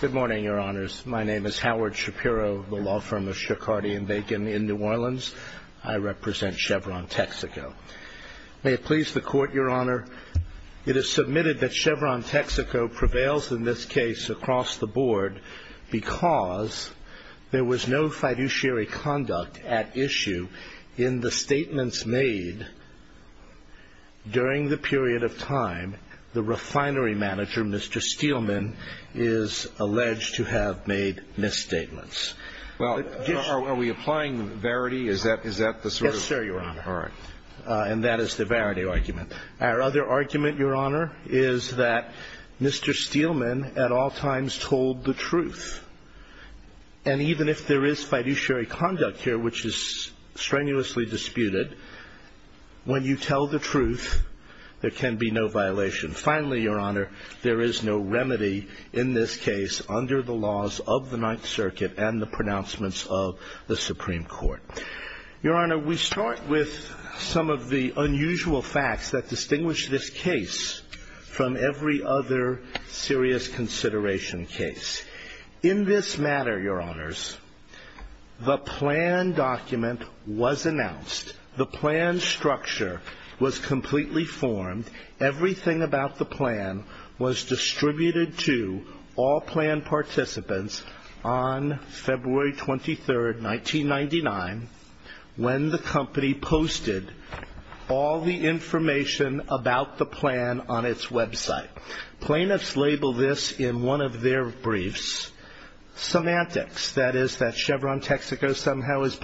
Good morning, Your Honors. My name is Howard Shapiro of the law firm of Shekhardy & Bacon in New Orleans. I represent Chevron Texaco. May it please the Court, Your Honor, it is submitted that Chevron Texaco prevails in this case across the board because there was no fiduciary conduct at issue in the statements made during the period of time the refinery manager, Mr. Steelman, is alleged to have made misstatements. Well, are we applying the verity? Is that the sort of... Yes, sir, Your Honor. All right. And that is the verity argument. Our other argument, Your Honor, is that Mr. Steelman at all times told the truth. And even if there is fiduciary conduct here, which is strenuously disputed, when you tell the truth, there can be no violation. Finally, Your Honor, there is no remedy in this case under the laws of the Ninth Circuit and the pronouncements of the Supreme Court. Your Honor, we start with some of the unusual facts that distinguish this case from every other serious consideration case. In this matter, Your Honors, the plan document was announced. The plan structure was completely formed. Everything about the plan was distributed to all plan participants on February 23rd, 1999, when the company posted all the information about the plan on its website. Plaintiffs labeled this in one of their briefs, semantics, that is that Chevron Texaco somehow is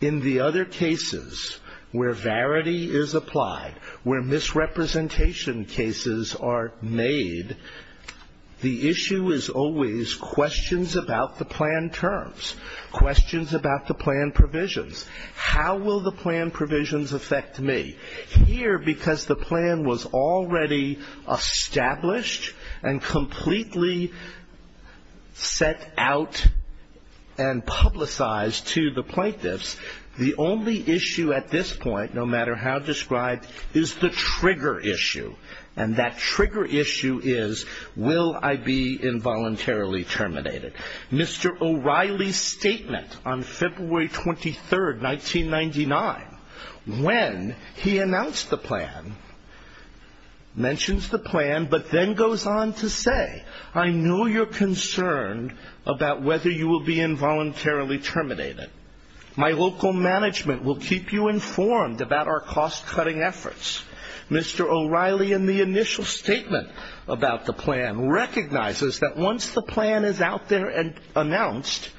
in the other cases where verity is applied, where misrepresentation cases are made, the issue is always questions about the plan terms, questions about the plan provisions. How will the plan provisions affect me? Here, because the plan was already established and completely set out and publicized to the plaintiffs, the only issue at this point, no matter how described, is the trigger issue. And that trigger issue is, will I be involuntarily terminated? Mr. O'Reilly's statement on February 23rd, 1999, when he announced the plan, mentions the plan, but then goes on to say, I know you're concerned about whether you will be involuntarily terminated. My local management will keep you informed about our cost-cutting efforts. Mr. O'Reilly, in the initial statement about the plan, recognizes that once the plan is out there and announced,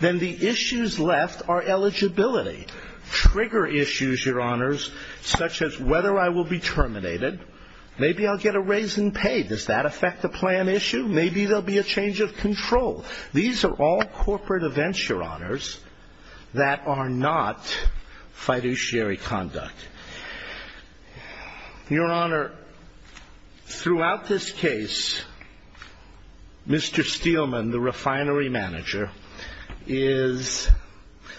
then the issues left are eligibility. Trigger issues, your honors, such as whether I will be terminated, maybe I'll get a raise in pay. Does that affect the plan issue? Maybe there'll be a change of control. These are all corporate events, your honors, that are not fiduciary conduct. Your honor, throughout this case, Mr. Steelman, the refinery manager, is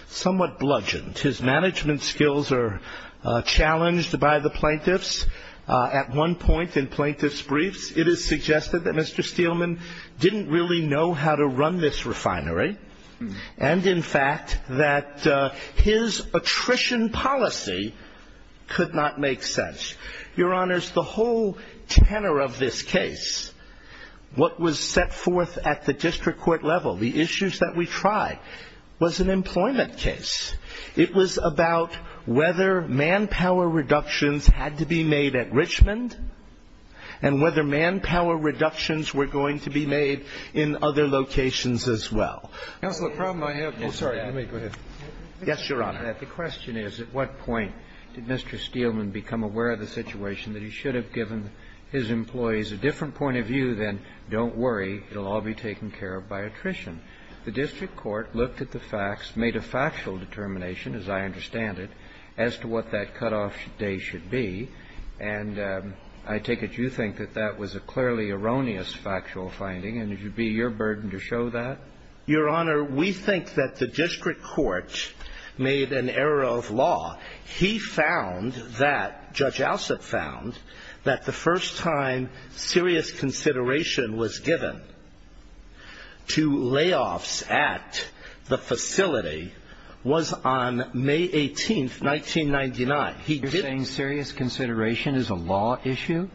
somewhat bludgeoned. His management skills are challenged by the plaintiffs. At one point in plaintiff's briefs, it is suggested that Mr. Steelman didn't really know how to run this refinery, and in fact, that his attrition policy could not make sense. Your honors, the whole tenor of this case, what was set forth at the district court level, the issues that we tried, was an employment case. It was about whether manpower reductions had to be made at Richmond, and whether there were other applications as well. The problem I have to say is that the question is, at what point did Mr. Steelman become aware of the situation that he should have given his employees a different point of view than, don't worry, it'll all be taken care of by attrition. The district court looked at the facts, made a factual determination, as I understand it, as to what that cutoff day should be. And I take it you think that that was a clearly erroneous factual finding, and it would be your burden to show that? Your honor, we think that the district court made an error of law. He found that Judge Alsep found that the first time serious consideration was given to layoffs at the facility was on May 18th, 1999. He didn't You're saying serious consideration is a law issue?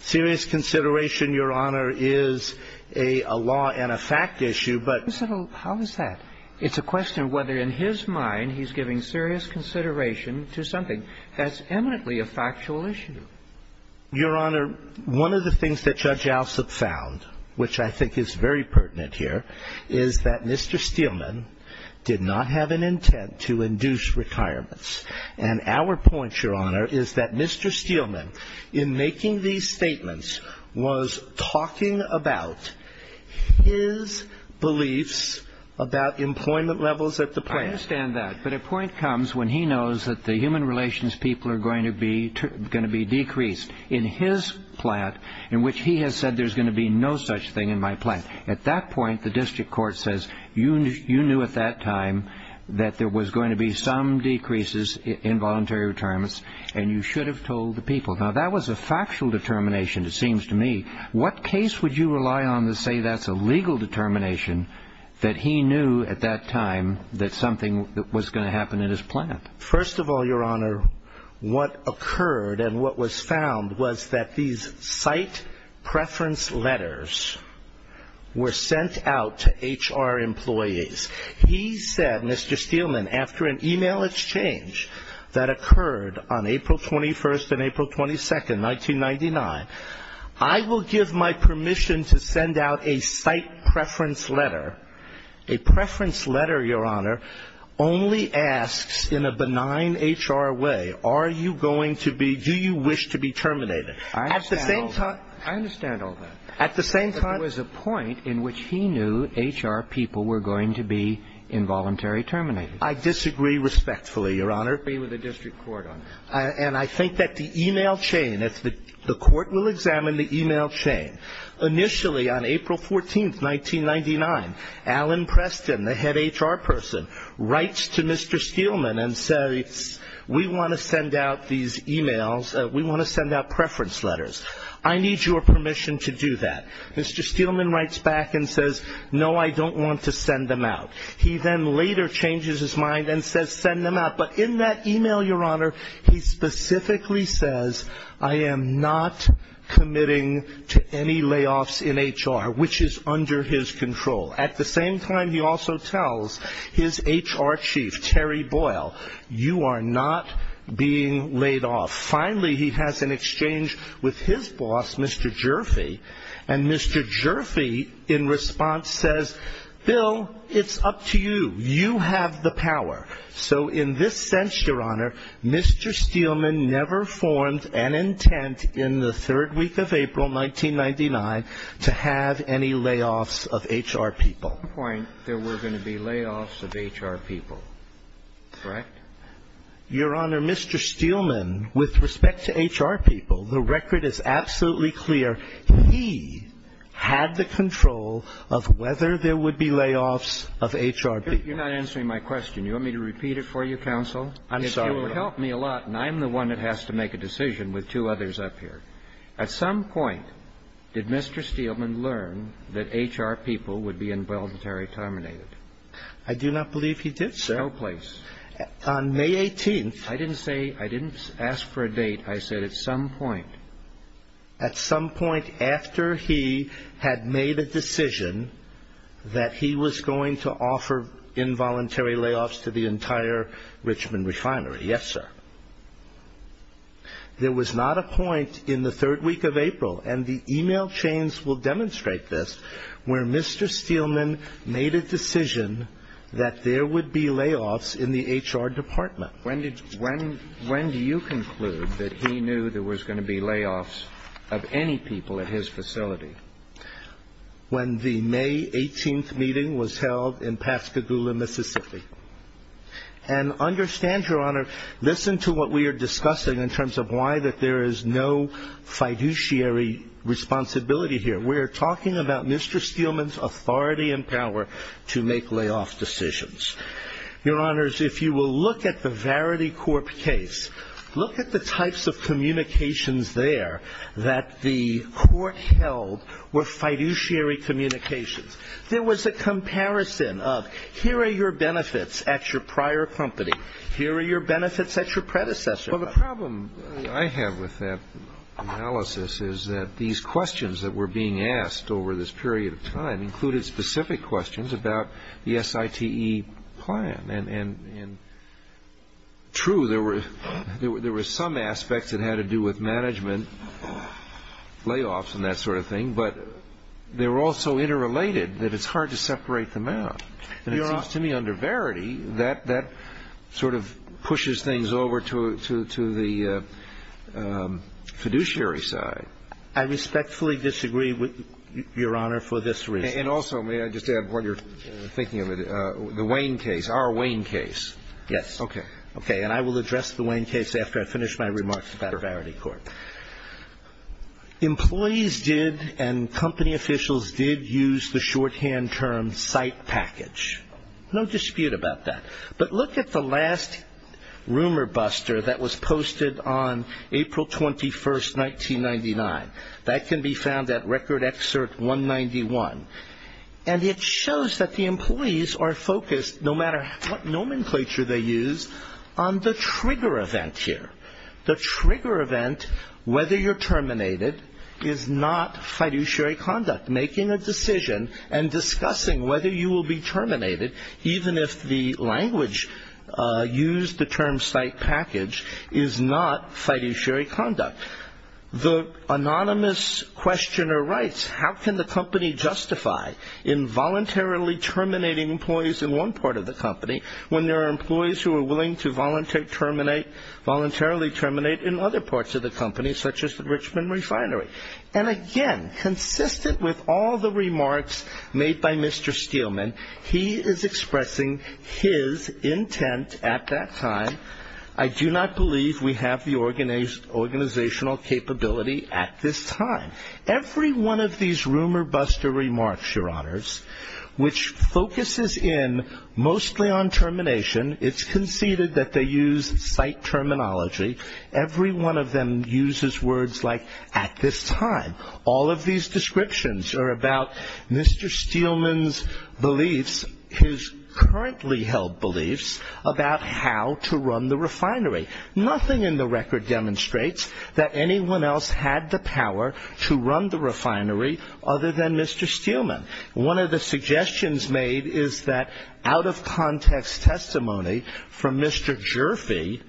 Serious consideration, your honor, is a law and a fact issue, but How is that? It's a question of whether in his mind he's giving serious consideration to something that's eminently a factual issue. Your honor, one of the things that Judge Alsep found, which I think is very pertinent here, is that Mr. Steelman did not have an intent to induce requirements. And our point, your honor, is that Mr. Steelman, in making these statements, was talking about his beliefs about employment levels at the plant. I understand that, but a point comes when he knows that the human relations people are going to be decreased in his plant, in which he has said there's going to be no such thing in my plant. At that point, the district court says, you knew at that time that there was going to be some decreases in voluntary retirements, and you should have told the people. Now, that was a factual determination, it seems to me. What case would you rely on to say that's a legal determination that he knew at that time that something was going to happen in his plant? What occurred and what was found was that these site preference letters were sent out to HR employees. He said, Mr. Steelman, after an email exchange that occurred on April 21st and April 22nd, 1999, I will give my permission to send out a site preference letter. A preference letter, your honor, only asks in a benign HR way, are you going to be, do you wish to be terminated? I understand all that. At the same time- There was a point in which he knew HR people were going to be involuntary terminated. I disagree respectfully, your honor. I agree with the district court on that. And I think that the email chain, if the court will examine the email chain, initially on April 14th, 1999, Alan Preston, the head HR person, writes to Mr. Steelman and says, we want to send out these emails, we want to send out preference letters. I need your permission to do that. Mr. Steelman writes back and says, no, I don't want to send them out. He then later changes his mind and says, send them out. But in that email, your honor, he specifically says, I am not committing to any layoffs in HR, which is under his control. At the same time, he also tells his HR chief, Terry Boyle, you are not being laid off. Finally, he has an exchange with his boss, Mr. Jerfee, and Mr. Jerfee in response says, Bill, it's up to you. You have the power. So in this sense, your honor, Mr. Steelman never formed an agreement with HR people in 1999 to have any layoffs of HR people. At some point, there were going to be layoffs of HR people, correct? Your honor, Mr. Steelman, with respect to HR people, the record is absolutely clear. He had the control of whether there would be layoffs of HR people. You're not answering my question. You want me to repeat it for you, counsel? I'm sorry, Your Honor. If you will help me a lot, and I'm the one that has to make a decision with two others up here. At some point, did Mr. Steelman learn that HR people would be involuntarily terminated? I do not believe he did, sir. No place. On May 18th. I didn't say, I didn't ask for a date. I said at some point. At some point after he had made a decision that he was going to offer involuntary layoffs to the entire Richmond refinery. Yes, sir. There was not a point in the third week of April, and the email chains will demonstrate this, where Mr. Steelman made a decision that there would be layoffs in the HR department. When did, when, when do you conclude that he knew there was going to be layoffs of any people at his facility? When the May 18th meeting was held in Pascagoula, Mississippi. And understand, your honor, listen to what we are discussing in terms of why that there is no fiduciary responsibility here. We're talking about Mr. Steelman's authority and power to make layoff decisions. Your honors, if you will look at the Verity Corp case, look at the types of communications there that the court held were fiduciary communications. There was a comparison of here are your benefits at your prior company, here are your benefits at your predecessor company. Well, the problem I have with that analysis is that these questions that were being asked over this period of time included specific questions about the SITE plan. And true, there were some aspects that had to do with management layoffs and that sort of thing, but they were all so interrelated that it's hard to separate them out. And it seems to me under Verity, that sort of pushes things over to the fiduciary side. I respectfully disagree, your honor, for this reason. And also, may I just add, while you're thinking of it, the Wayne case, our Wayne case. Yes. Okay. Okay, and I will address the Wayne case after I finish my remarks about Verity Corp. Employees did and company officials did use the shorthand term SITE package. No dispute about that. But look at the last rumor buster that was posted on April 21st, 1999. That can be found at Record Excerpt 191. And it shows that the employees are focused, no matter what nomenclature they use, on the trigger event here. The trigger event, whether you're terminated, is not fiduciary conduct. Making a decision and discussing whether you will be terminated, even if the language used, the term SITE package, is not fiduciary conduct. The anonymous questioner writes, how can the company justify involuntarily terminating employees in one part of the company when there are employees who are willing to voluntarily terminate in other parts of the company, such as the Richmond Refinery? And, again, consistent with all the remarks made by Mr. Steelman, he is expressing his intent at that time, I do not believe we have the organizational capability at this time. Every one of these rumor buster remarks, Your Honors, which focuses in mostly on termination, it's conceded that they use SITE terminology. Every one of them uses words like at this time. All of these descriptions are about Mr. Steelman's beliefs, his currently held beliefs, about how to run the refinery. Nothing in the record demonstrates that anyone else had the power to run the refinery other than Mr. Steelman. One of the suggestions made is that out-of-context testimony from Mr. Jurfee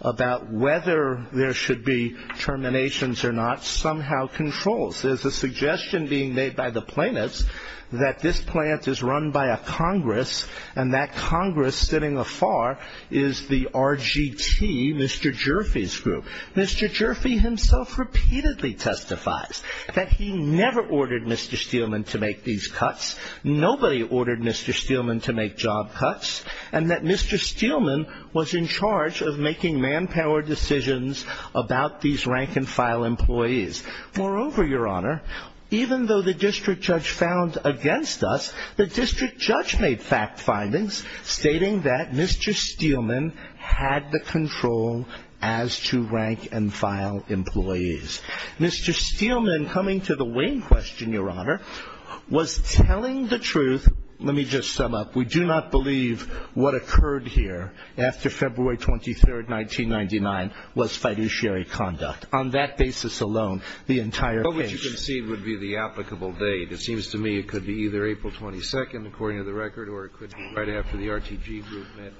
about whether there should be terminations or not somehow controls. There's a suggestion being made by the plaintiffs that this plant is run by a Congress and that Congress sitting afar is the RGT, Mr. Jurfee's group. Mr. Jurfee himself repeatedly testifies that he never ordered Mr. Steelman to make these cuts. Nobody ordered Mr. Steelman to make job cuts and that Mr. Steelman was in charge of making manpower decisions about these rank-and-file employees. Moreover, Your Honor, even though the district judge found against us, the district judge made fact findings stating that Mr. Steelman had the control as to rank-and-file employees. Mr. Steelman coming to the wing question, Your Honor, was telling the truth. Let me just sum up. We do not believe what occurred here after February 23, 1999, was fiduciary conduct. On that basis alone, the entire case. What you concede would be the applicable date. It seems to me it could be either April 22, according to the record, or it could be right after the RTG group met,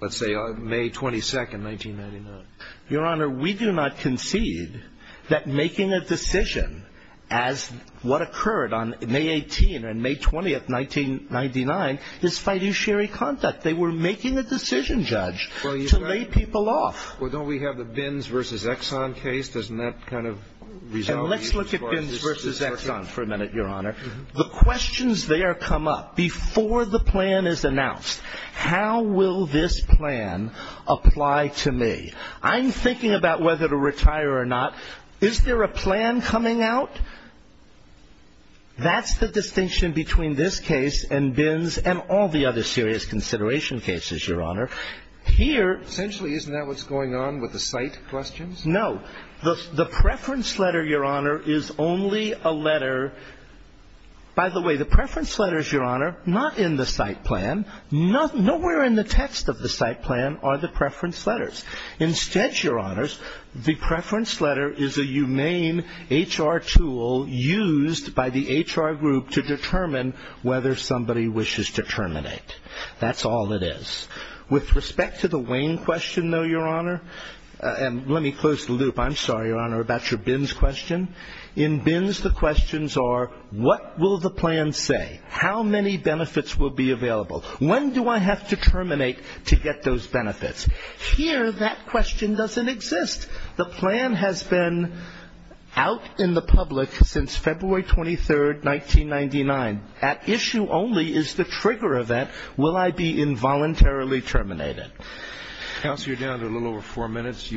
let's say, May 22, 1999. Your Honor, we do not concede that making a decision as what occurred on May 18 and May 20, 1999, is fiduciary conduct. They were making a decision, Judge, to lay people off. Well, don't we have the Binns v. Exxon case? Let's look at Binns v. Exxon for a minute, Your Honor. The questions there come up before the plan is announced. How will this plan apply to me? I'm thinking about whether to retire or not. Is there a plan coming out? That's the distinction between this case and Binns and all the other serious consideration cases, Your Honor. Essentially, isn't that what's going on with the site questions? No. The preference letter, Your Honor, is only a letter. By the way, the preference letters, Your Honor, not in the site plan. Nowhere in the text of the site plan are the preference letters. Instead, Your Honors, the preference letter is a humane HR tool used by the HR group to determine whether somebody wishes to terminate. That's all it is. With respect to the Wayne question, though, Your Honor, and let me close the loop. I'm sorry, Your Honor, about your Binns question. In Binns, the questions are what will the plan say? How many benefits will be available? When do I have to terminate to get those benefits? Here, that question doesn't exist. The plan has been out in the public since February 23, 1999. At issue only is the trigger event. Will I be involuntarily terminated? Counsel, you're down to a little over four minutes.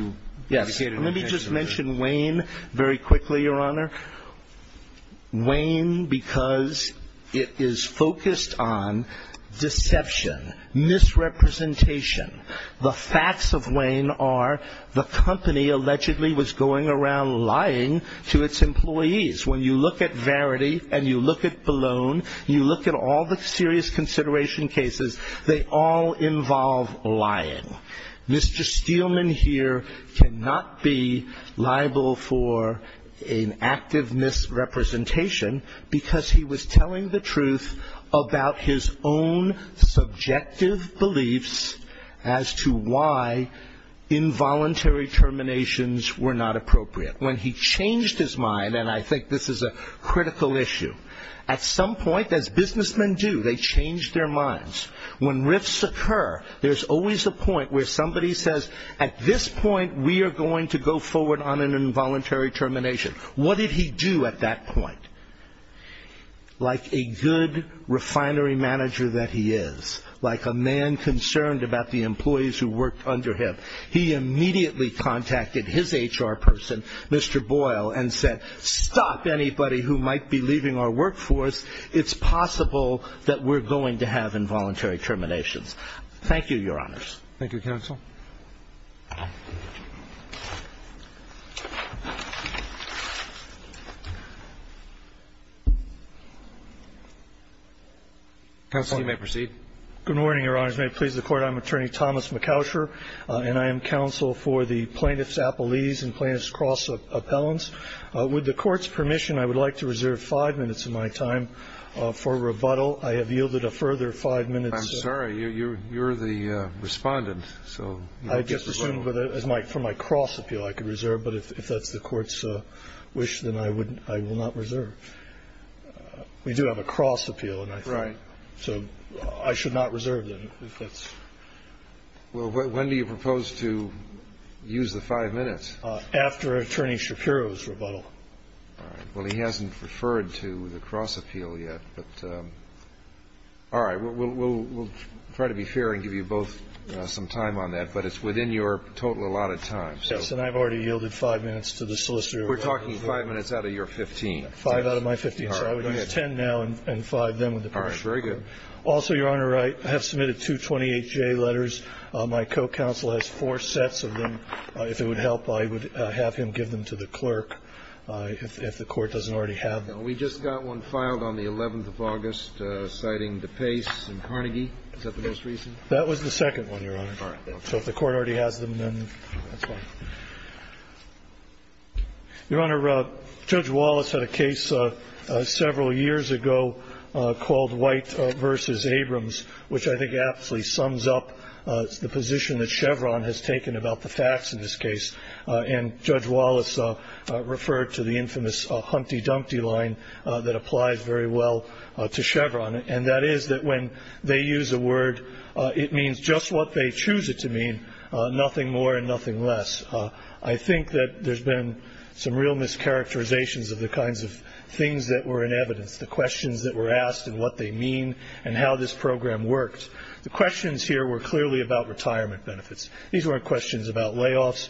Yes. Let me just mention Wayne very quickly, Your Honor. Wayne, because it is focused on deception, misrepresentation. The facts of Wayne are the company allegedly was going around lying to its employees. When you look at Verity and you look at Ballone, you look at all the serious consideration cases, they all involve lying. Mr. Steelman here cannot be liable for an active misrepresentation because he was telling the truth about his own subjective beliefs as to why involuntary terminations were not appropriate. When he changed his mind, and I think this is a critical issue, at some point, as businessmen do, they change their minds. When rifts occur, there's always a point where somebody says, at this point we are going to go forward on an involuntary termination. What did he do at that point? Like a good refinery manager that he is, like a man concerned about the employees who worked under him, he immediately contacted his HR person, Mr. Boyle, and said, stop anybody who might be leaving our workforce. It's possible that we're going to have involuntary terminations. Thank you, Your Honors. Thank you, Counsel. Good morning, Your Honors. May it please the Court, I'm Attorney Thomas McOusher, and I am counsel for the Plaintiff's Appellees and Plaintiff's Cross Appellants. With the Court's permission, I would like to reserve five minutes of my time for rebuttal. I have yielded a further five minutes. I'm sorry. You're the Respondent. I just assumed for my cross appeal I could reserve. But if that's the Court's wish, then I will not reserve. We do have a cross appeal. Right. So I should not reserve then. Well, when do you propose to use the five minutes? After Attorney Shapiro's rebuttal. All right. Well, he hasn't referred to the cross appeal yet, but all right. We'll try to be fair and give you both some time on that, but it's within your total allotted time. Yes, and I've already yielded five minutes to the solicitor. We're talking five minutes out of your 15. Five out of my 15. All right. Very good. Also, Your Honor, I have submitted two 28-J letters. My co-counsel has four sets of them. If it would help, I would have him give them to the clerk if the Court doesn't already have them. We just got one filed on the 11th of August citing DePace and Carnegie. Is that the most recent? That was the second one, Your Honor. All right. So if the Court already has them, then that's fine. Your Honor, Judge Wallace had a case several years ago called White v. Abrams, which I think absolutely sums up the position that Chevron has taken about the facts in this case. And Judge Wallace referred to the infamous hunty-dunty line that applies very well to Chevron, and that is that when they use a word, it means just what they choose it to mean, nothing more and nothing less. I think that there's been some real mischaracterizations of the kinds of things that were in evidence, the questions that were asked and what they mean and how this program works. The questions here were clearly about retirement benefits. These weren't questions about layoffs.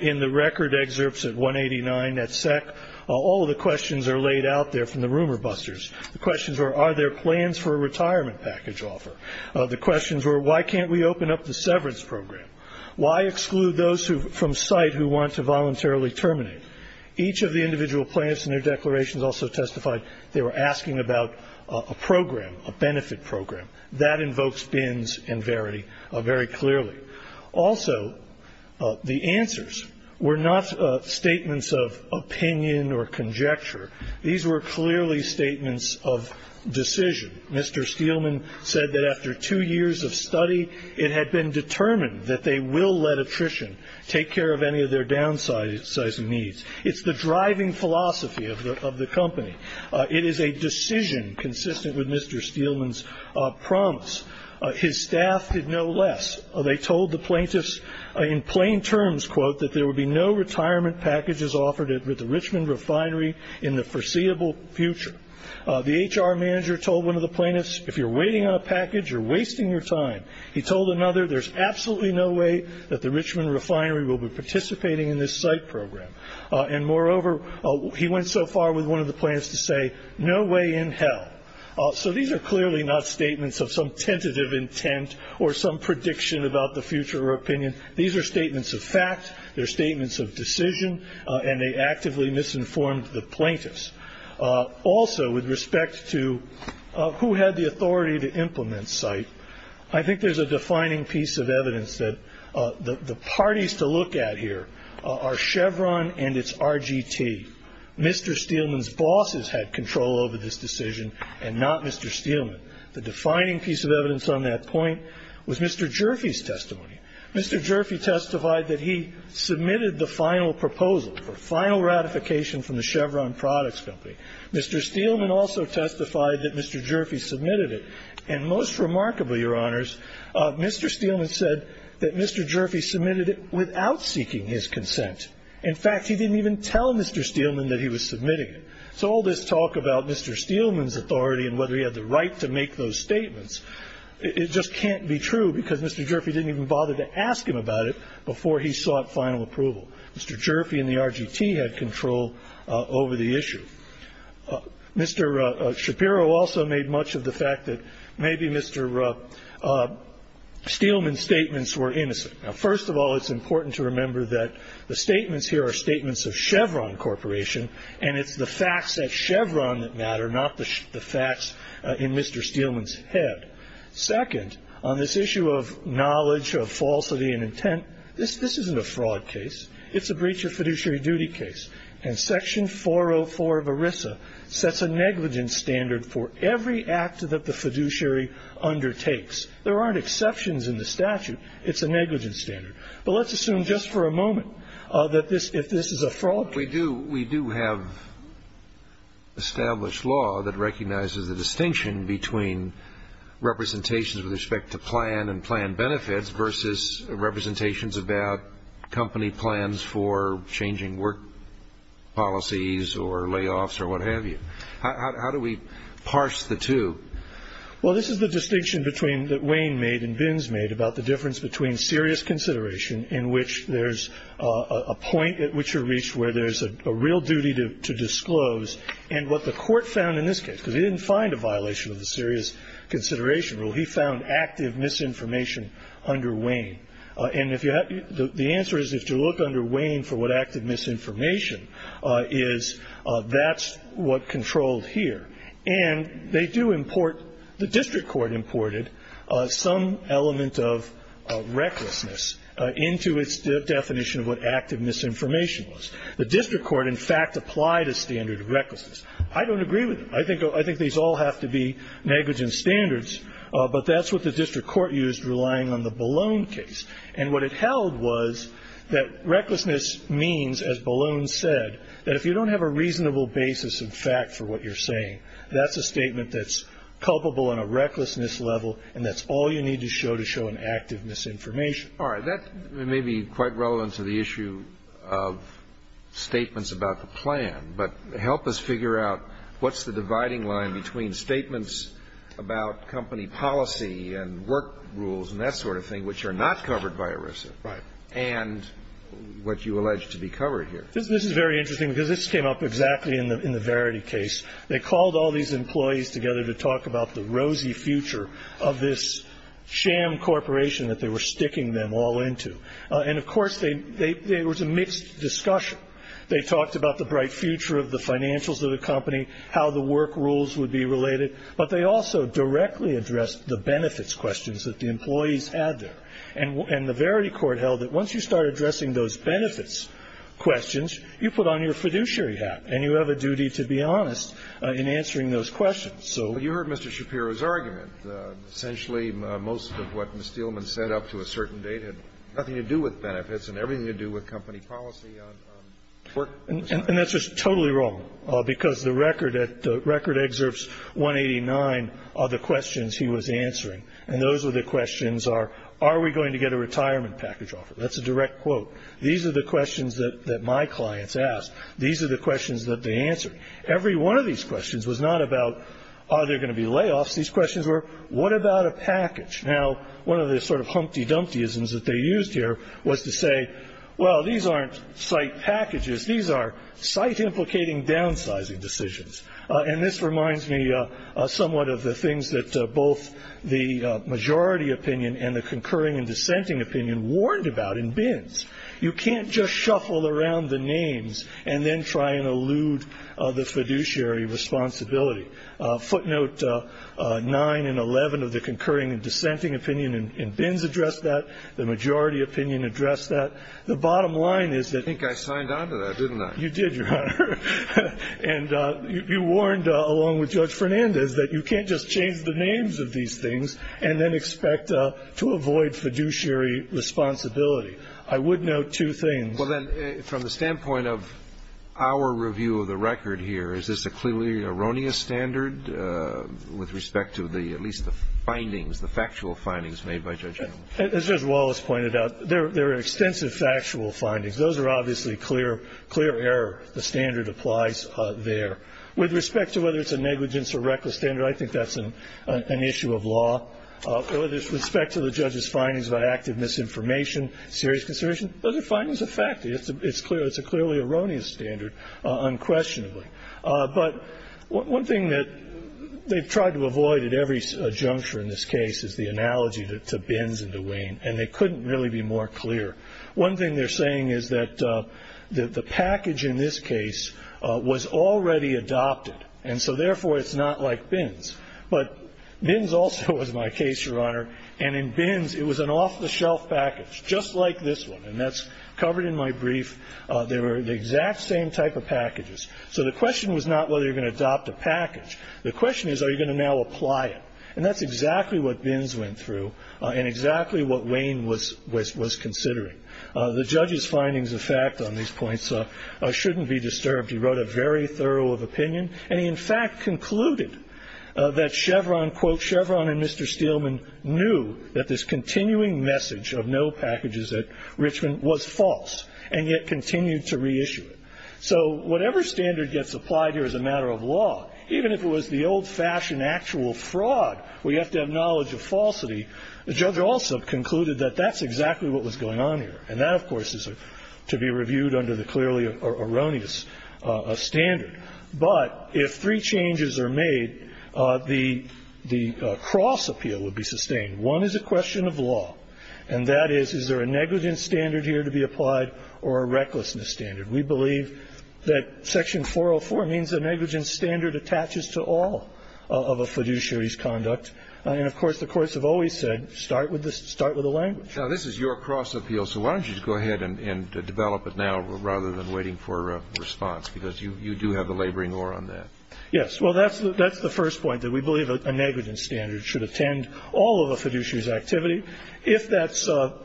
In the record excerpts at 189 at SEC, all of the questions are laid out there from the rumor busters. The questions were, are there plans for a retirement package offer? The questions were, why can't we open up the severance program? Why exclude those from site who want to voluntarily terminate? Each of the individual plans in their declarations also testified they were asking about a program, a benefit program. That invokes Bins and Verity very clearly. Also, the answers were not statements of opinion or conjecture. These were clearly statements of decision. Mr. Steelman said that after two years of study, it had been determined that they will let attrition take care of any of their downsizing needs. It's the driving philosophy of the company. It is a decision consistent with Mr. Steelman's promise. His staff did no less. They told the plaintiffs in plain terms, quote, that there would be no retirement packages offered at the Richmond Refinery in the foreseeable future. The HR manager told one of the plaintiffs, if you're waiting on a package, you're wasting your time. He told another, there's absolutely no way that the Richmond Refinery will be participating in this site program. And moreover, he went so far with one of the plaintiffs to say, no way in hell. So these are clearly not statements of some tentative intent or some prediction about the future or opinion. These are statements of fact. They're statements of decision. And they actively misinformed the plaintiffs. Also, with respect to who had the authority to implement site, I think there's a defining piece of evidence that the parties to look at here are Chevron and its RGT. Mr. Steelman's bosses had control over this decision and not Mr. Steelman. The defining piece of evidence on that point was Mr. Jurfey's testimony. Mr. Jurfey testified that he submitted the final proposal for final ratification from the Chevron Products Company. Mr. Steelman also testified that Mr. Jurfey submitted it. And most remarkably, Your Honors, Mr. Steelman said that Mr. Jurfey submitted it without seeking his consent. In fact, he didn't even tell Mr. Steelman that he was submitting it. So all this talk about Mr. Steelman's authority and whether he had the right to make those statements, it just can't be true because Mr. Jurfey didn't even bother to ask him about it before he sought final approval. Mr. Jurfey and the RGT had control over the issue. Mr. Shapiro also made much of the fact that maybe Mr. Steelman's statements were innocent. Now, first of all, it's important to remember that the statements here are statements of Chevron Corporation, and it's the facts at Chevron that matter, not the facts in Mr. Steelman's head. Second, on this issue of knowledge of falsity and intent, this isn't a fraud case. It's a breach of fiduciary duty case. And Section 404 of ERISA sets a negligence standard for every act that the fiduciary undertakes. There aren't exceptions in the statute. It's a negligence standard. But let's assume just for a moment that if this is a fraud case. We do have established law that recognizes the distinction between representations with respect to plan and plan benefits versus representations about company plans for changing work policies or layoffs or what have you. How do we parse the two? Well, this is the distinction that Wayne made and Bins made about the difference between serious consideration in which there's a point at which you're reached where there's a real duty to disclose. And what the court found in this case, because he didn't find a violation of the serious consideration rule, he found active misinformation under Wayne. And the answer is if you look under Wayne for what active misinformation is, that's what controlled here. And they do import the district court imported some element of recklessness into its definition of what active misinformation was. The district court, in fact, applied a standard of recklessness. I don't agree with them. I think these all have to be negligence standards. But that's what the district court used relying on the Ballone case. And what it held was that recklessness means, as Ballone said, that if you don't have a reasonable basis of fact for what you're saying, that's a statement that's culpable on a recklessness level, and that's all you need to show to show an active misinformation. All right. That may be quite relevant to the issue of statements about the plan. But help us figure out what's the dividing line between statements about company policy and work rules and that sort of thing, which are not covered by ERISA, and what you allege to be covered here. This is very interesting because this came up exactly in the Verity case. They called all these employees together to talk about the rosy future of this sham corporation that they were sticking them all into. And, of course, there was a mixed discussion. They talked about the bright future of the financials of the company, how the work rules would be related. But they also directly addressed the benefits questions that the employees had there. And the Verity court held that once you start addressing those benefits questions, you put on your fiduciary hat, and you have a duty to be honest in answering those questions. So you heard Mr. Shapiro's argument. Essentially, most of what Ms. Steelman said up to a certain date had nothing to do with benefits and everything to do with company policy on work. And that's just totally wrong, because the record at the record excerpts 189 are the questions he was answering. And those are the questions are, are we going to get a retirement package offer? That's a direct quote. These are the questions that my clients asked. These are the questions that they answered. Every one of these questions was not about are there going to be layoffs. These questions were, what about a package? Now, one of the sort of humpty-dumpty-isms that they used here was to say, well, these aren't site packages. These are site implicating downsizing decisions. And this reminds me somewhat of the things that both the majority opinion and the concurring and dissenting opinion warned about in Bins. You can't just shuffle around the names and then try and elude the fiduciary responsibility. Footnote 9 and 11 of the concurring and dissenting opinion in Bins addressed that. The majority opinion addressed that. The bottom line is that. I think I signed on to that, didn't I? You did, Your Honor. And you warned along with Judge Fernandez that you can't just change the names of these things and then expect to avoid fiduciary responsibility. I would note two things. Well, then, from the standpoint of our review of the record here, is this a clearly erroneous standard with respect to at least the findings, the factual findings made by Judge Allen? As Judge Wallace pointed out, there are extensive factual findings. Those are obviously clear error. The standard applies there. With respect to whether it's a negligence or reckless standard, I think that's an issue of law. With respect to the judge's findings about active misinformation, serious conservation, those are findings of fact. It's a clearly erroneous standard, unquestionably. But one thing that they've tried to avoid at every juncture in this case is the analogy to Bins and Duane, and they couldn't really be more clear. One thing they're saying is that the package in this case was already adopted, and so therefore it's not like Bins. But Bins also was my case, Your Honor, and in Bins it was an off-the-shelf package, just like this one, and that's covered in my brief. They were the exact same type of packages. So the question was not whether you're going to adopt a package. The question is, are you going to now apply it? And that's exactly what Bins went through and exactly what Wayne was considering. The judge's findings of fact on these points shouldn't be disturbed. He wrote a very thorough opinion, and he in fact concluded that Chevron, quote, Chevron and Mr. Steelman knew that this continuing message of no packages at Richmond was false and yet continued to reissue it. Even if it was the old-fashioned actual fraud where you have to have knowledge of falsity, the judge also concluded that that's exactly what was going on here. And that, of course, is to be reviewed under the clearly erroneous standard. But if three changes are made, the cross appeal would be sustained. One is a question of law, and that is, is there a negligence standard here to be applied or a recklessness standard? We believe that section 404 means a negligence standard attaches to all of a fiduciary's conduct. And of course, the courts have always said start with the language. Now, this is your cross appeal, so why don't you just go ahead and develop it now rather than waiting for a response, because you do have a laboring oar on that. Yes. Well, that's the first point, that we believe a negligence standard should attend all of a fiduciary's activity. If that's so,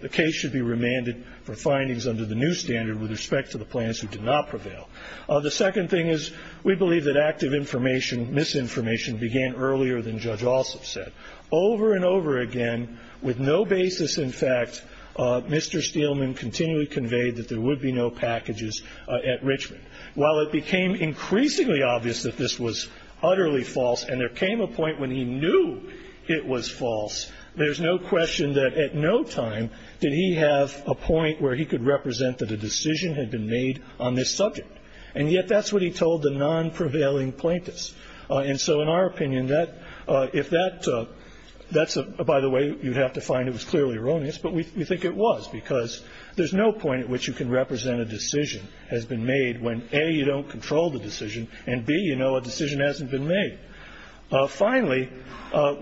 the case should be remanded for findings under the new standard with respect to the plaintiffs who did not prevail. The second thing is we believe that active information, misinformation began earlier than Judge Alsop said. Over and over again, with no basis in fact, Mr. Steelman continually conveyed that there would be no packages at Richmond. While it became increasingly obvious that this was utterly false, and there came a point when he knew it was false, there's no question that at no time did he have a point where he could represent that a decision had been made on this subject. And yet that's what he told the non-prevailing plaintiffs. And so in our opinion, if that's a, by the way, you'd have to find it was clearly erroneous, but we think it was because there's no point at which you can represent a decision has been made when, A, you don't control the decision, and, B, you know a decision hasn't been made. Finally,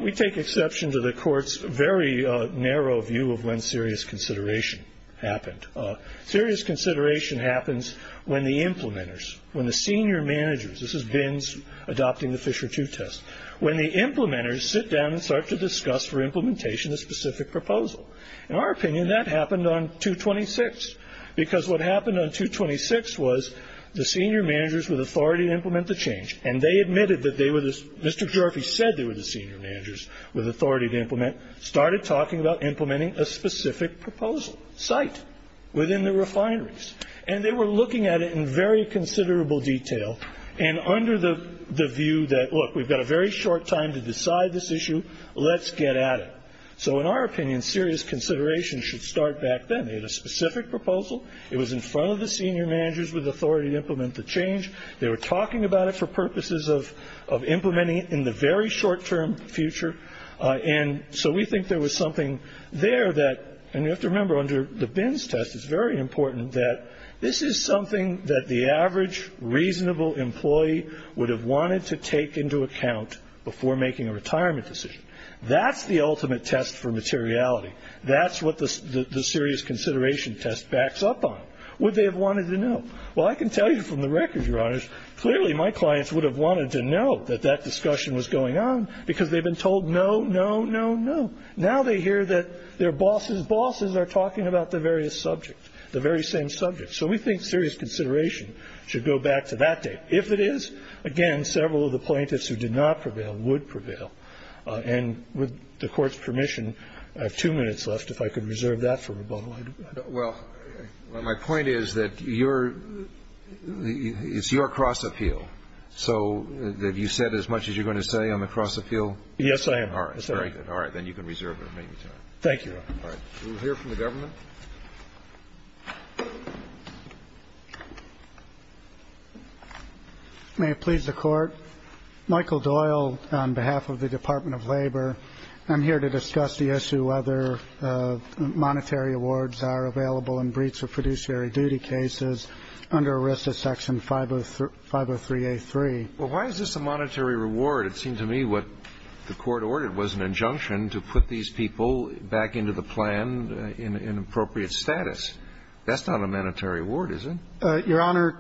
we take exception to the court's very narrow view of when serious consideration happened. Serious consideration happens when the implementers, when the senior managers, this is Bins adopting the Fisher II test, when the implementers sit down and start to discuss for implementation a specific proposal. In our opinion, that happened on 226, because what happened on 226 was the senior managers with authority to implement the change, and they admitted that they were, Mr. Jorphy said they were the senior managers with authority to implement, started talking about implementing a specific proposal, site, within the refineries. And they were looking at it in very considerable detail, and under the view that, look, we've got a very short time to decide this issue, let's get at it. So in our opinion, serious consideration should start back then. They had a specific proposal. It was in front of the senior managers with authority to implement the change. They were talking about it for purposes of implementing it in the very short-term future. And so we think there was something there that, and you have to remember under the Bins test, it's very important that this is something that the average reasonable employee would have wanted to take into account before making a retirement decision. That's the ultimate test for materiality. That's what the serious consideration test backs up on. Would they have wanted to know? Well, I can tell you from the record, Your Honors, clearly my clients would have wanted to know that that discussion was going on because they've been told no, no, no, no. Now they hear that their bosses' bosses are talking about the various subjects, the very same subjects. So we think serious consideration should go back to that date. If it is, again, several of the plaintiffs who did not prevail would prevail. And with the Court's permission, I have two minutes left. If I could reserve that for rebuttal, I do. Well, my point is that it's your cross-appeal. So have you said as much as you're going to say on the cross-appeal? Yes, I have. All right, very good. All right, then you can reserve it. Thank you. All right. We'll hear from the government. May it please the Court. Michael Doyle on behalf of the Department of Labor. I'm here to discuss the issue whether monetary awards are available in breach of fiduciary duty cases under a risk of Section 503A3. Well, why is this a monetary reward? It seemed to me what the Court ordered was an injunction to put these people back into the plan in appropriate status. That's not a monetary award, is it? Your Honor,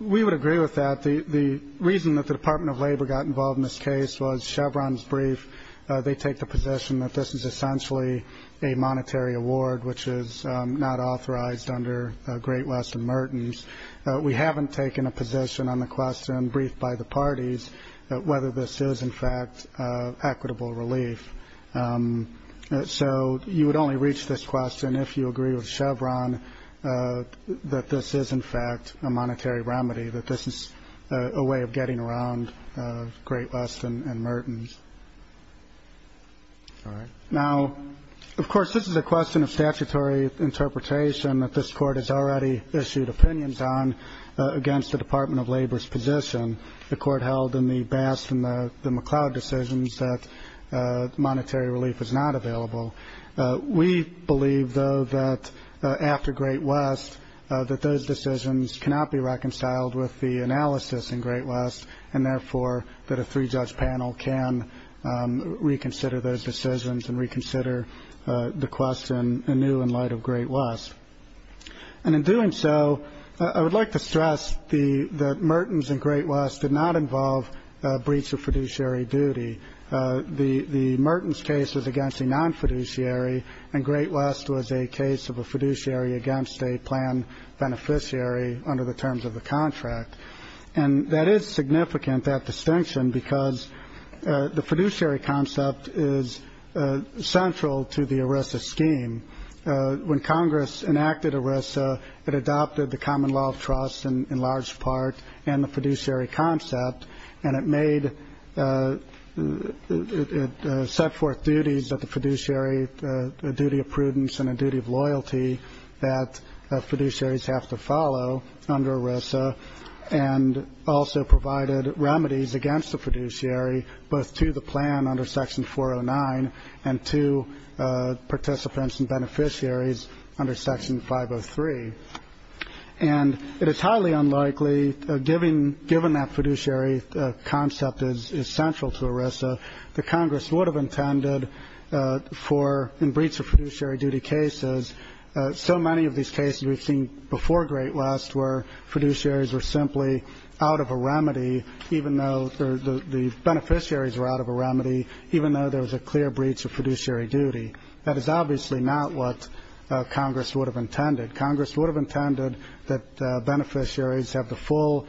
we would agree with that. The reason that the Department of Labor got involved in this case was Chevron's belief they take the position that this is essentially a monetary award, which is not authorized under Great West and Mertens. We haven't taken a position on the question briefed by the parties whether this is, in fact, equitable relief. So you would only reach this question if you agree with Chevron that this is, in fact, a monetary remedy, that this is a way of getting around Great West and Mertens. Now, of course, this is a question of statutory interpretation that this Court has already issued opinions on against the Department of Labor's position. The Court held in the Bass and the McLeod decisions that monetary relief is not available. We believe, though, that after Great West, that those decisions cannot be reconciled with the analysis in Great West, and therefore that a three-judge panel can reconsider those decisions and reconsider the question anew in light of Great West. And in doing so, I would like to stress that Mertens and Great West did not involve breach of fiduciary duty. The Mertens case was against a non-fiduciary, and Great West was a case of a fiduciary against a plan beneficiary under the terms of the contract. And that is significant, that distinction, because the fiduciary concept is central to the ERISA scheme. When Congress enacted ERISA, it adopted the common law of trust in large part and the fiduciary concept, and it set forth duties of the fiduciary, a duty of prudence and a duty of loyalty that fiduciaries have to follow under ERISA, and also provided remedies against the fiduciary both to the plan under Section 409 and to participants and beneficiaries under Section 503. And it is highly unlikely, given that fiduciary concept is central to ERISA, that Congress would have intended for in breach of fiduciary duty cases, so many of these cases we've seen before Great West were fiduciaries were simply out of a remedy, even though the beneficiaries were out of a remedy, even though there was a clear breach of fiduciary duty. That is obviously not what Congress would have intended. Congress would have intended that beneficiaries have the full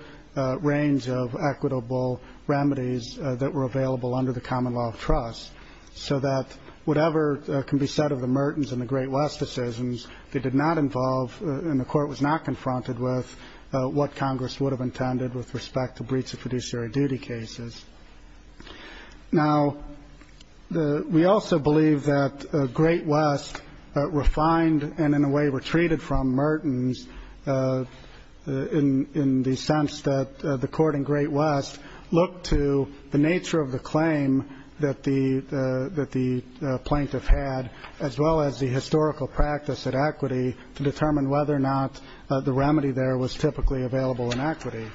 range of equitable remedies that were available under the common law of trust, so that whatever can be said of the Mertens and the Great West decisions, they did not involve and the court was not confronted with what Congress would have intended with respect to breach of fiduciary duty cases. Now, we also believe that Great West refined and in a way retreated from Mertens, in the sense that the court in Great West looked to the nature of the claim that the plaintiff had, as well as the historical practice at equity, to determine whether or not the remedy there was typically available in equity.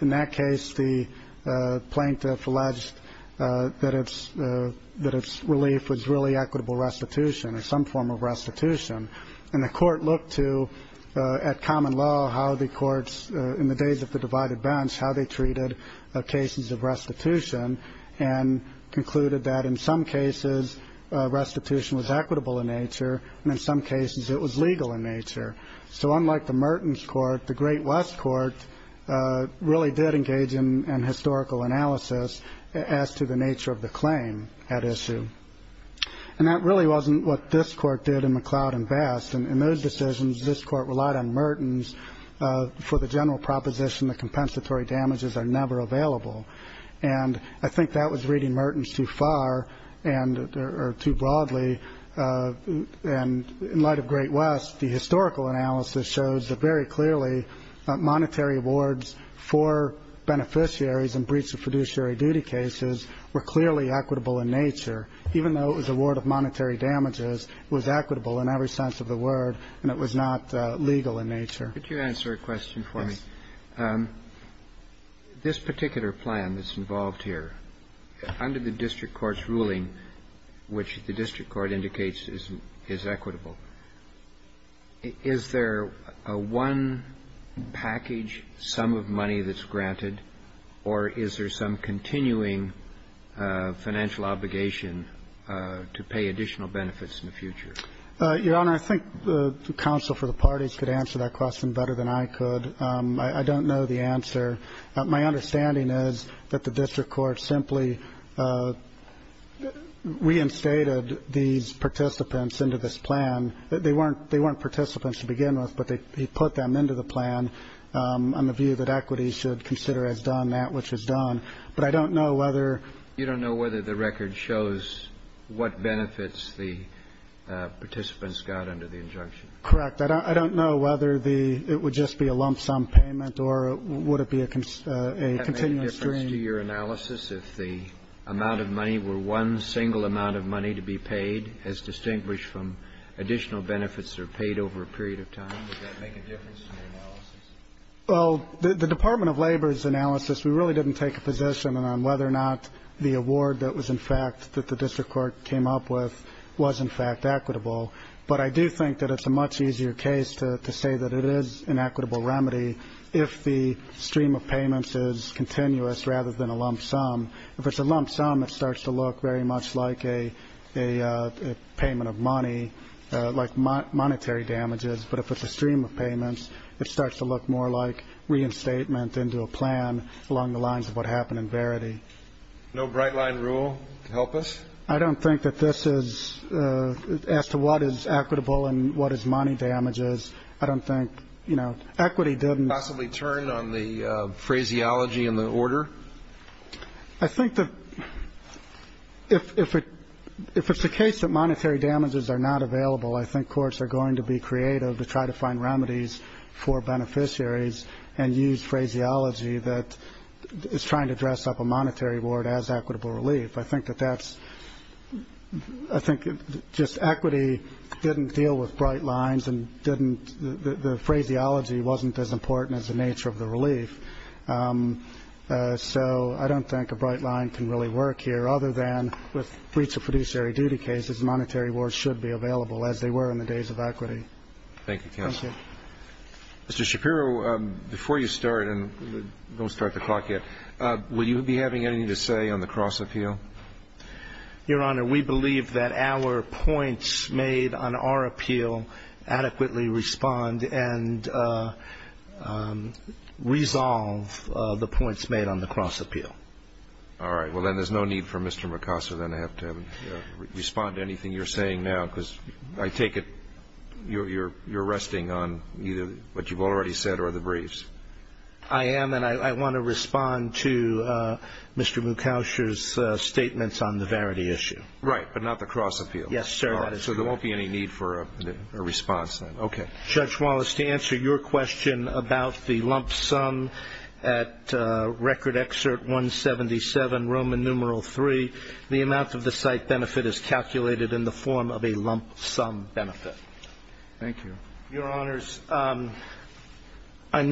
In that case, the plaintiff alleged that its relief was really equitable restitution or some form of restitution. And the court looked to, at common law, how the courts in the days of the divided bench, how they treated cases of restitution and concluded that in some cases restitution was equitable in nature and in some cases it was legal in nature. So unlike the Mertens court, the Great West court really did engage in historical analysis as to the nature of the claim at issue. And that really wasn't what this court did in McLeod and Best. In those decisions, this court relied on Mertens for the general proposition that compensatory damages are never available. And I think that was reading Mertens too far or too broadly. And in light of Great West, the historical analysis shows that very clearly monetary awards for beneficiaries and breach of fiduciary duty cases were clearly equitable in nature, even though it was a word of monetary damages was equitable in every sense of the word and it was not legal in nature. Could you answer a question for me? Yes. Your Honor, I think the counsel for the parties could answer that question better than I could. My understanding is that the district court is not involved here. Under the district court's ruling, which the district court indicates is equitable, is there a one package sum of money that's granted or is there some continuing financial obligation to pay additional benefits in the future? Your Honor, I think the counsel for the parties could answer that question better than I could. I don't know the answer. My understanding is that the district court simply reinstated these participants into this plan. They weren't participants to begin with, but they put them into the plan on the view that equity should consider as done that which is done. But I don't know whether. You don't know whether the record shows what benefits the participants got under the injunction? Correct. I don't know whether it would just be a lump sum payment or would it be a continuous stream. Would that make a difference to your analysis if the amount of money were one single amount of money to be paid as distinguished from additional benefits that are paid over a period of time? Would that make a difference to your analysis? Well, the Department of Labor's analysis, we really didn't take a position on whether or not the award that was in fact that the district court came up with was in fact equitable. But I do think that it's a much easier case to say that it is an equitable remedy if the stream of payments is continuous rather than a lump sum. If it's a lump sum, it starts to look very much like a payment of money, like monetary damages. But if it's a stream of payments, it starts to look more like reinstatement into a plan along the lines of what happened in Verity. No bright line rule to help us? I don't think that this is as to what is equitable and what is money damages. I don't think, you know, equity didn't. Possibly turn on the phraseology and the order? I think that if it's the case that monetary damages are not available, I think courts are going to be creative to try to find remedies for beneficiaries and use phraseology that is trying to dress up a monetary award as equitable relief. I think that that's I think just equity didn't deal with bright lines and didn't. The phraseology wasn't as important as the nature of the relief. So I don't think a bright line can really work here, other than with breach of fiduciary duty cases, monetary awards should be available as they were in the days of equity. Thank you, counsel. Thank you. Mr. Shapiro, before you start, and don't start the clock yet, will you be having anything to say on the cross appeal? Your Honor, we believe that our points made on our appeal adequately respond and resolve the points made on the cross appeal. All right. Well, then there's no need for Mr. Mucasa then to have to respond to anything you're saying now, because I take it you're resting on either what you've already said or the briefs. I am, and I want to respond to Mr. Mucasa's statements on the verity issue. Right, but not the cross appeal. Yes, sir. So there won't be any need for a response then. Okay. Judge Wallace, to answer your question about the lump sum at record excerpt 177, Roman numeral 3, the amount of the site benefit is calculated in the form of a lump sum benefit. Thank you. Your Honors, I'm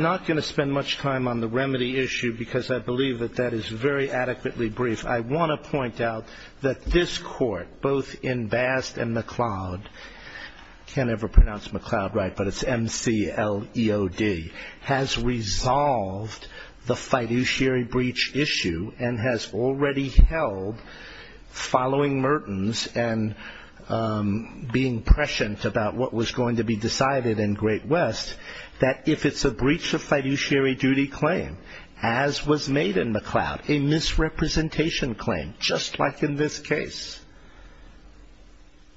not going to spend much time on the remedy issue, because I believe that that is very adequately brief. I want to point out that this Court, both in Bast and McLeod, can't ever pronounce McLeod right, but it's M-C-L-E-O-D, has resolved the fiduciary breach issue and has already held, following Merton's and being prescient about what was going to be decided in Great West, that if it's a breach of fiduciary duty claim, as was made in McLeod, a misrepresentation claim, just like in this case,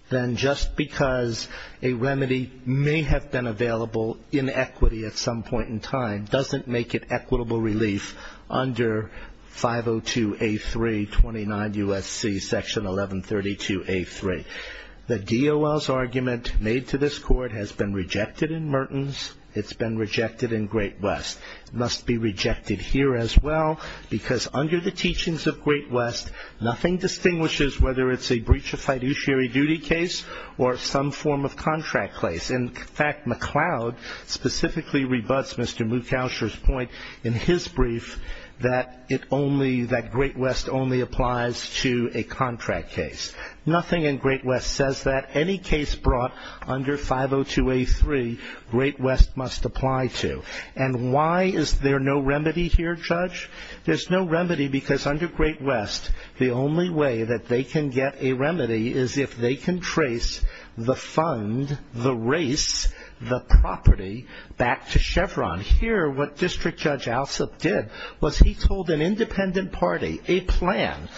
then just because a remedy may have been available in equity at some point in time, doesn't make it equitable relief under 502A329 U.S.C. section 1132A3. The DOL's argument made to this Court has been rejected in Merton's. It's been rejected in Great West. It must be rejected here as well, because under the teachings of Great West, nothing distinguishes whether it's a breach of fiduciary duty case or some form of contract case. In fact, McLeod specifically rebuts Mr. Moukowsher's point in his brief that Great West only applies to a contract case. Nothing in Great West says that. Any case brought under 502A3, Great West must apply to. And why is there no remedy here, Judge? There's no remedy, because under Great West, the only way that they can get a remedy is if they can trace the fund, the race, the property back to Chevron. Here, what District Judge Alsup did was he told an independent party a plan.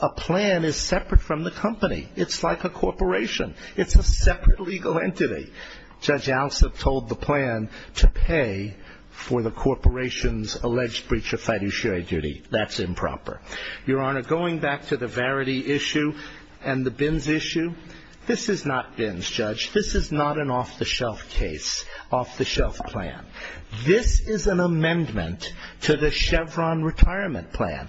A plan is separate from the company. It's like a corporation. It's a separate legal entity. Judge Alsup told the plan to pay for the corporation's alleged breach of fiduciary duty. That's improper. Your Honor, going back to the Verity issue and the Bins issue, this is not Bins, Judge. This is not an off-the-shelf case, off-the-shelf plan. This is an amendment to the Chevron retirement plan.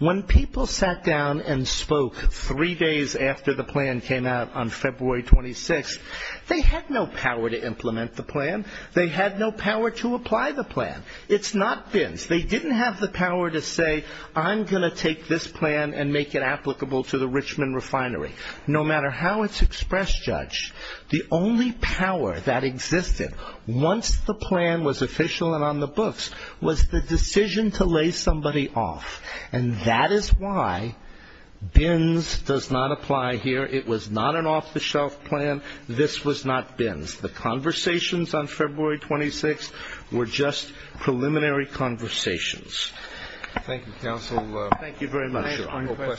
When people sat down and spoke three days after the plan came out on February 26th, they had no power to implement the plan. They had no power to apply the plan. It's not Bins. They didn't have the power to say, I'm going to take this plan and make it applicable to the Richmond refinery. No matter how it's expressed, Judge, the only power that existed once the plan was official and on the books was the decision to lay somebody off. And that is why Bins does not apply here. It was not an off-the-shelf plan. This was not Bins. The conversations on February 26th were just preliminary conversations. Thank you, counsel. Thank you very much, Your Honor.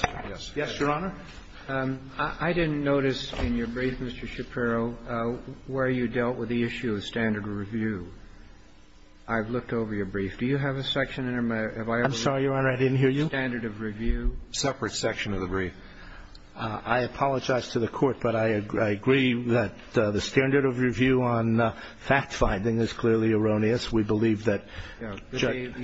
Yes, Your Honor. I didn't notice in your brief, Mr. Shapiro, where you dealt with the issue of standard of review. I've looked over your brief. Do you have a section in there? I'm sorry, Your Honor. I didn't hear you. Standard of review. Separate section of the brief. I apologize to the Court, but I agree that the standard of review on fact-finding is clearly erroneous. We believe that, Judge.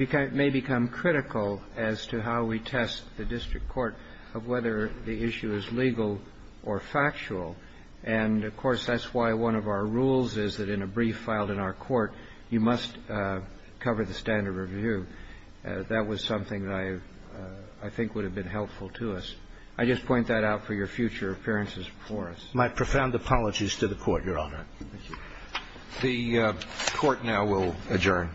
It may become critical as to how we test the district court of whether the issue is legal or factual. And, of course, that's why one of our rules is that in a brief filed in our court, you must cover the standard of review. That was something that I think would have been helpful to us. I just point that out for your future appearances before us. My profound apologies to the Court, Your Honor. Thank you. The Court now will adjourn.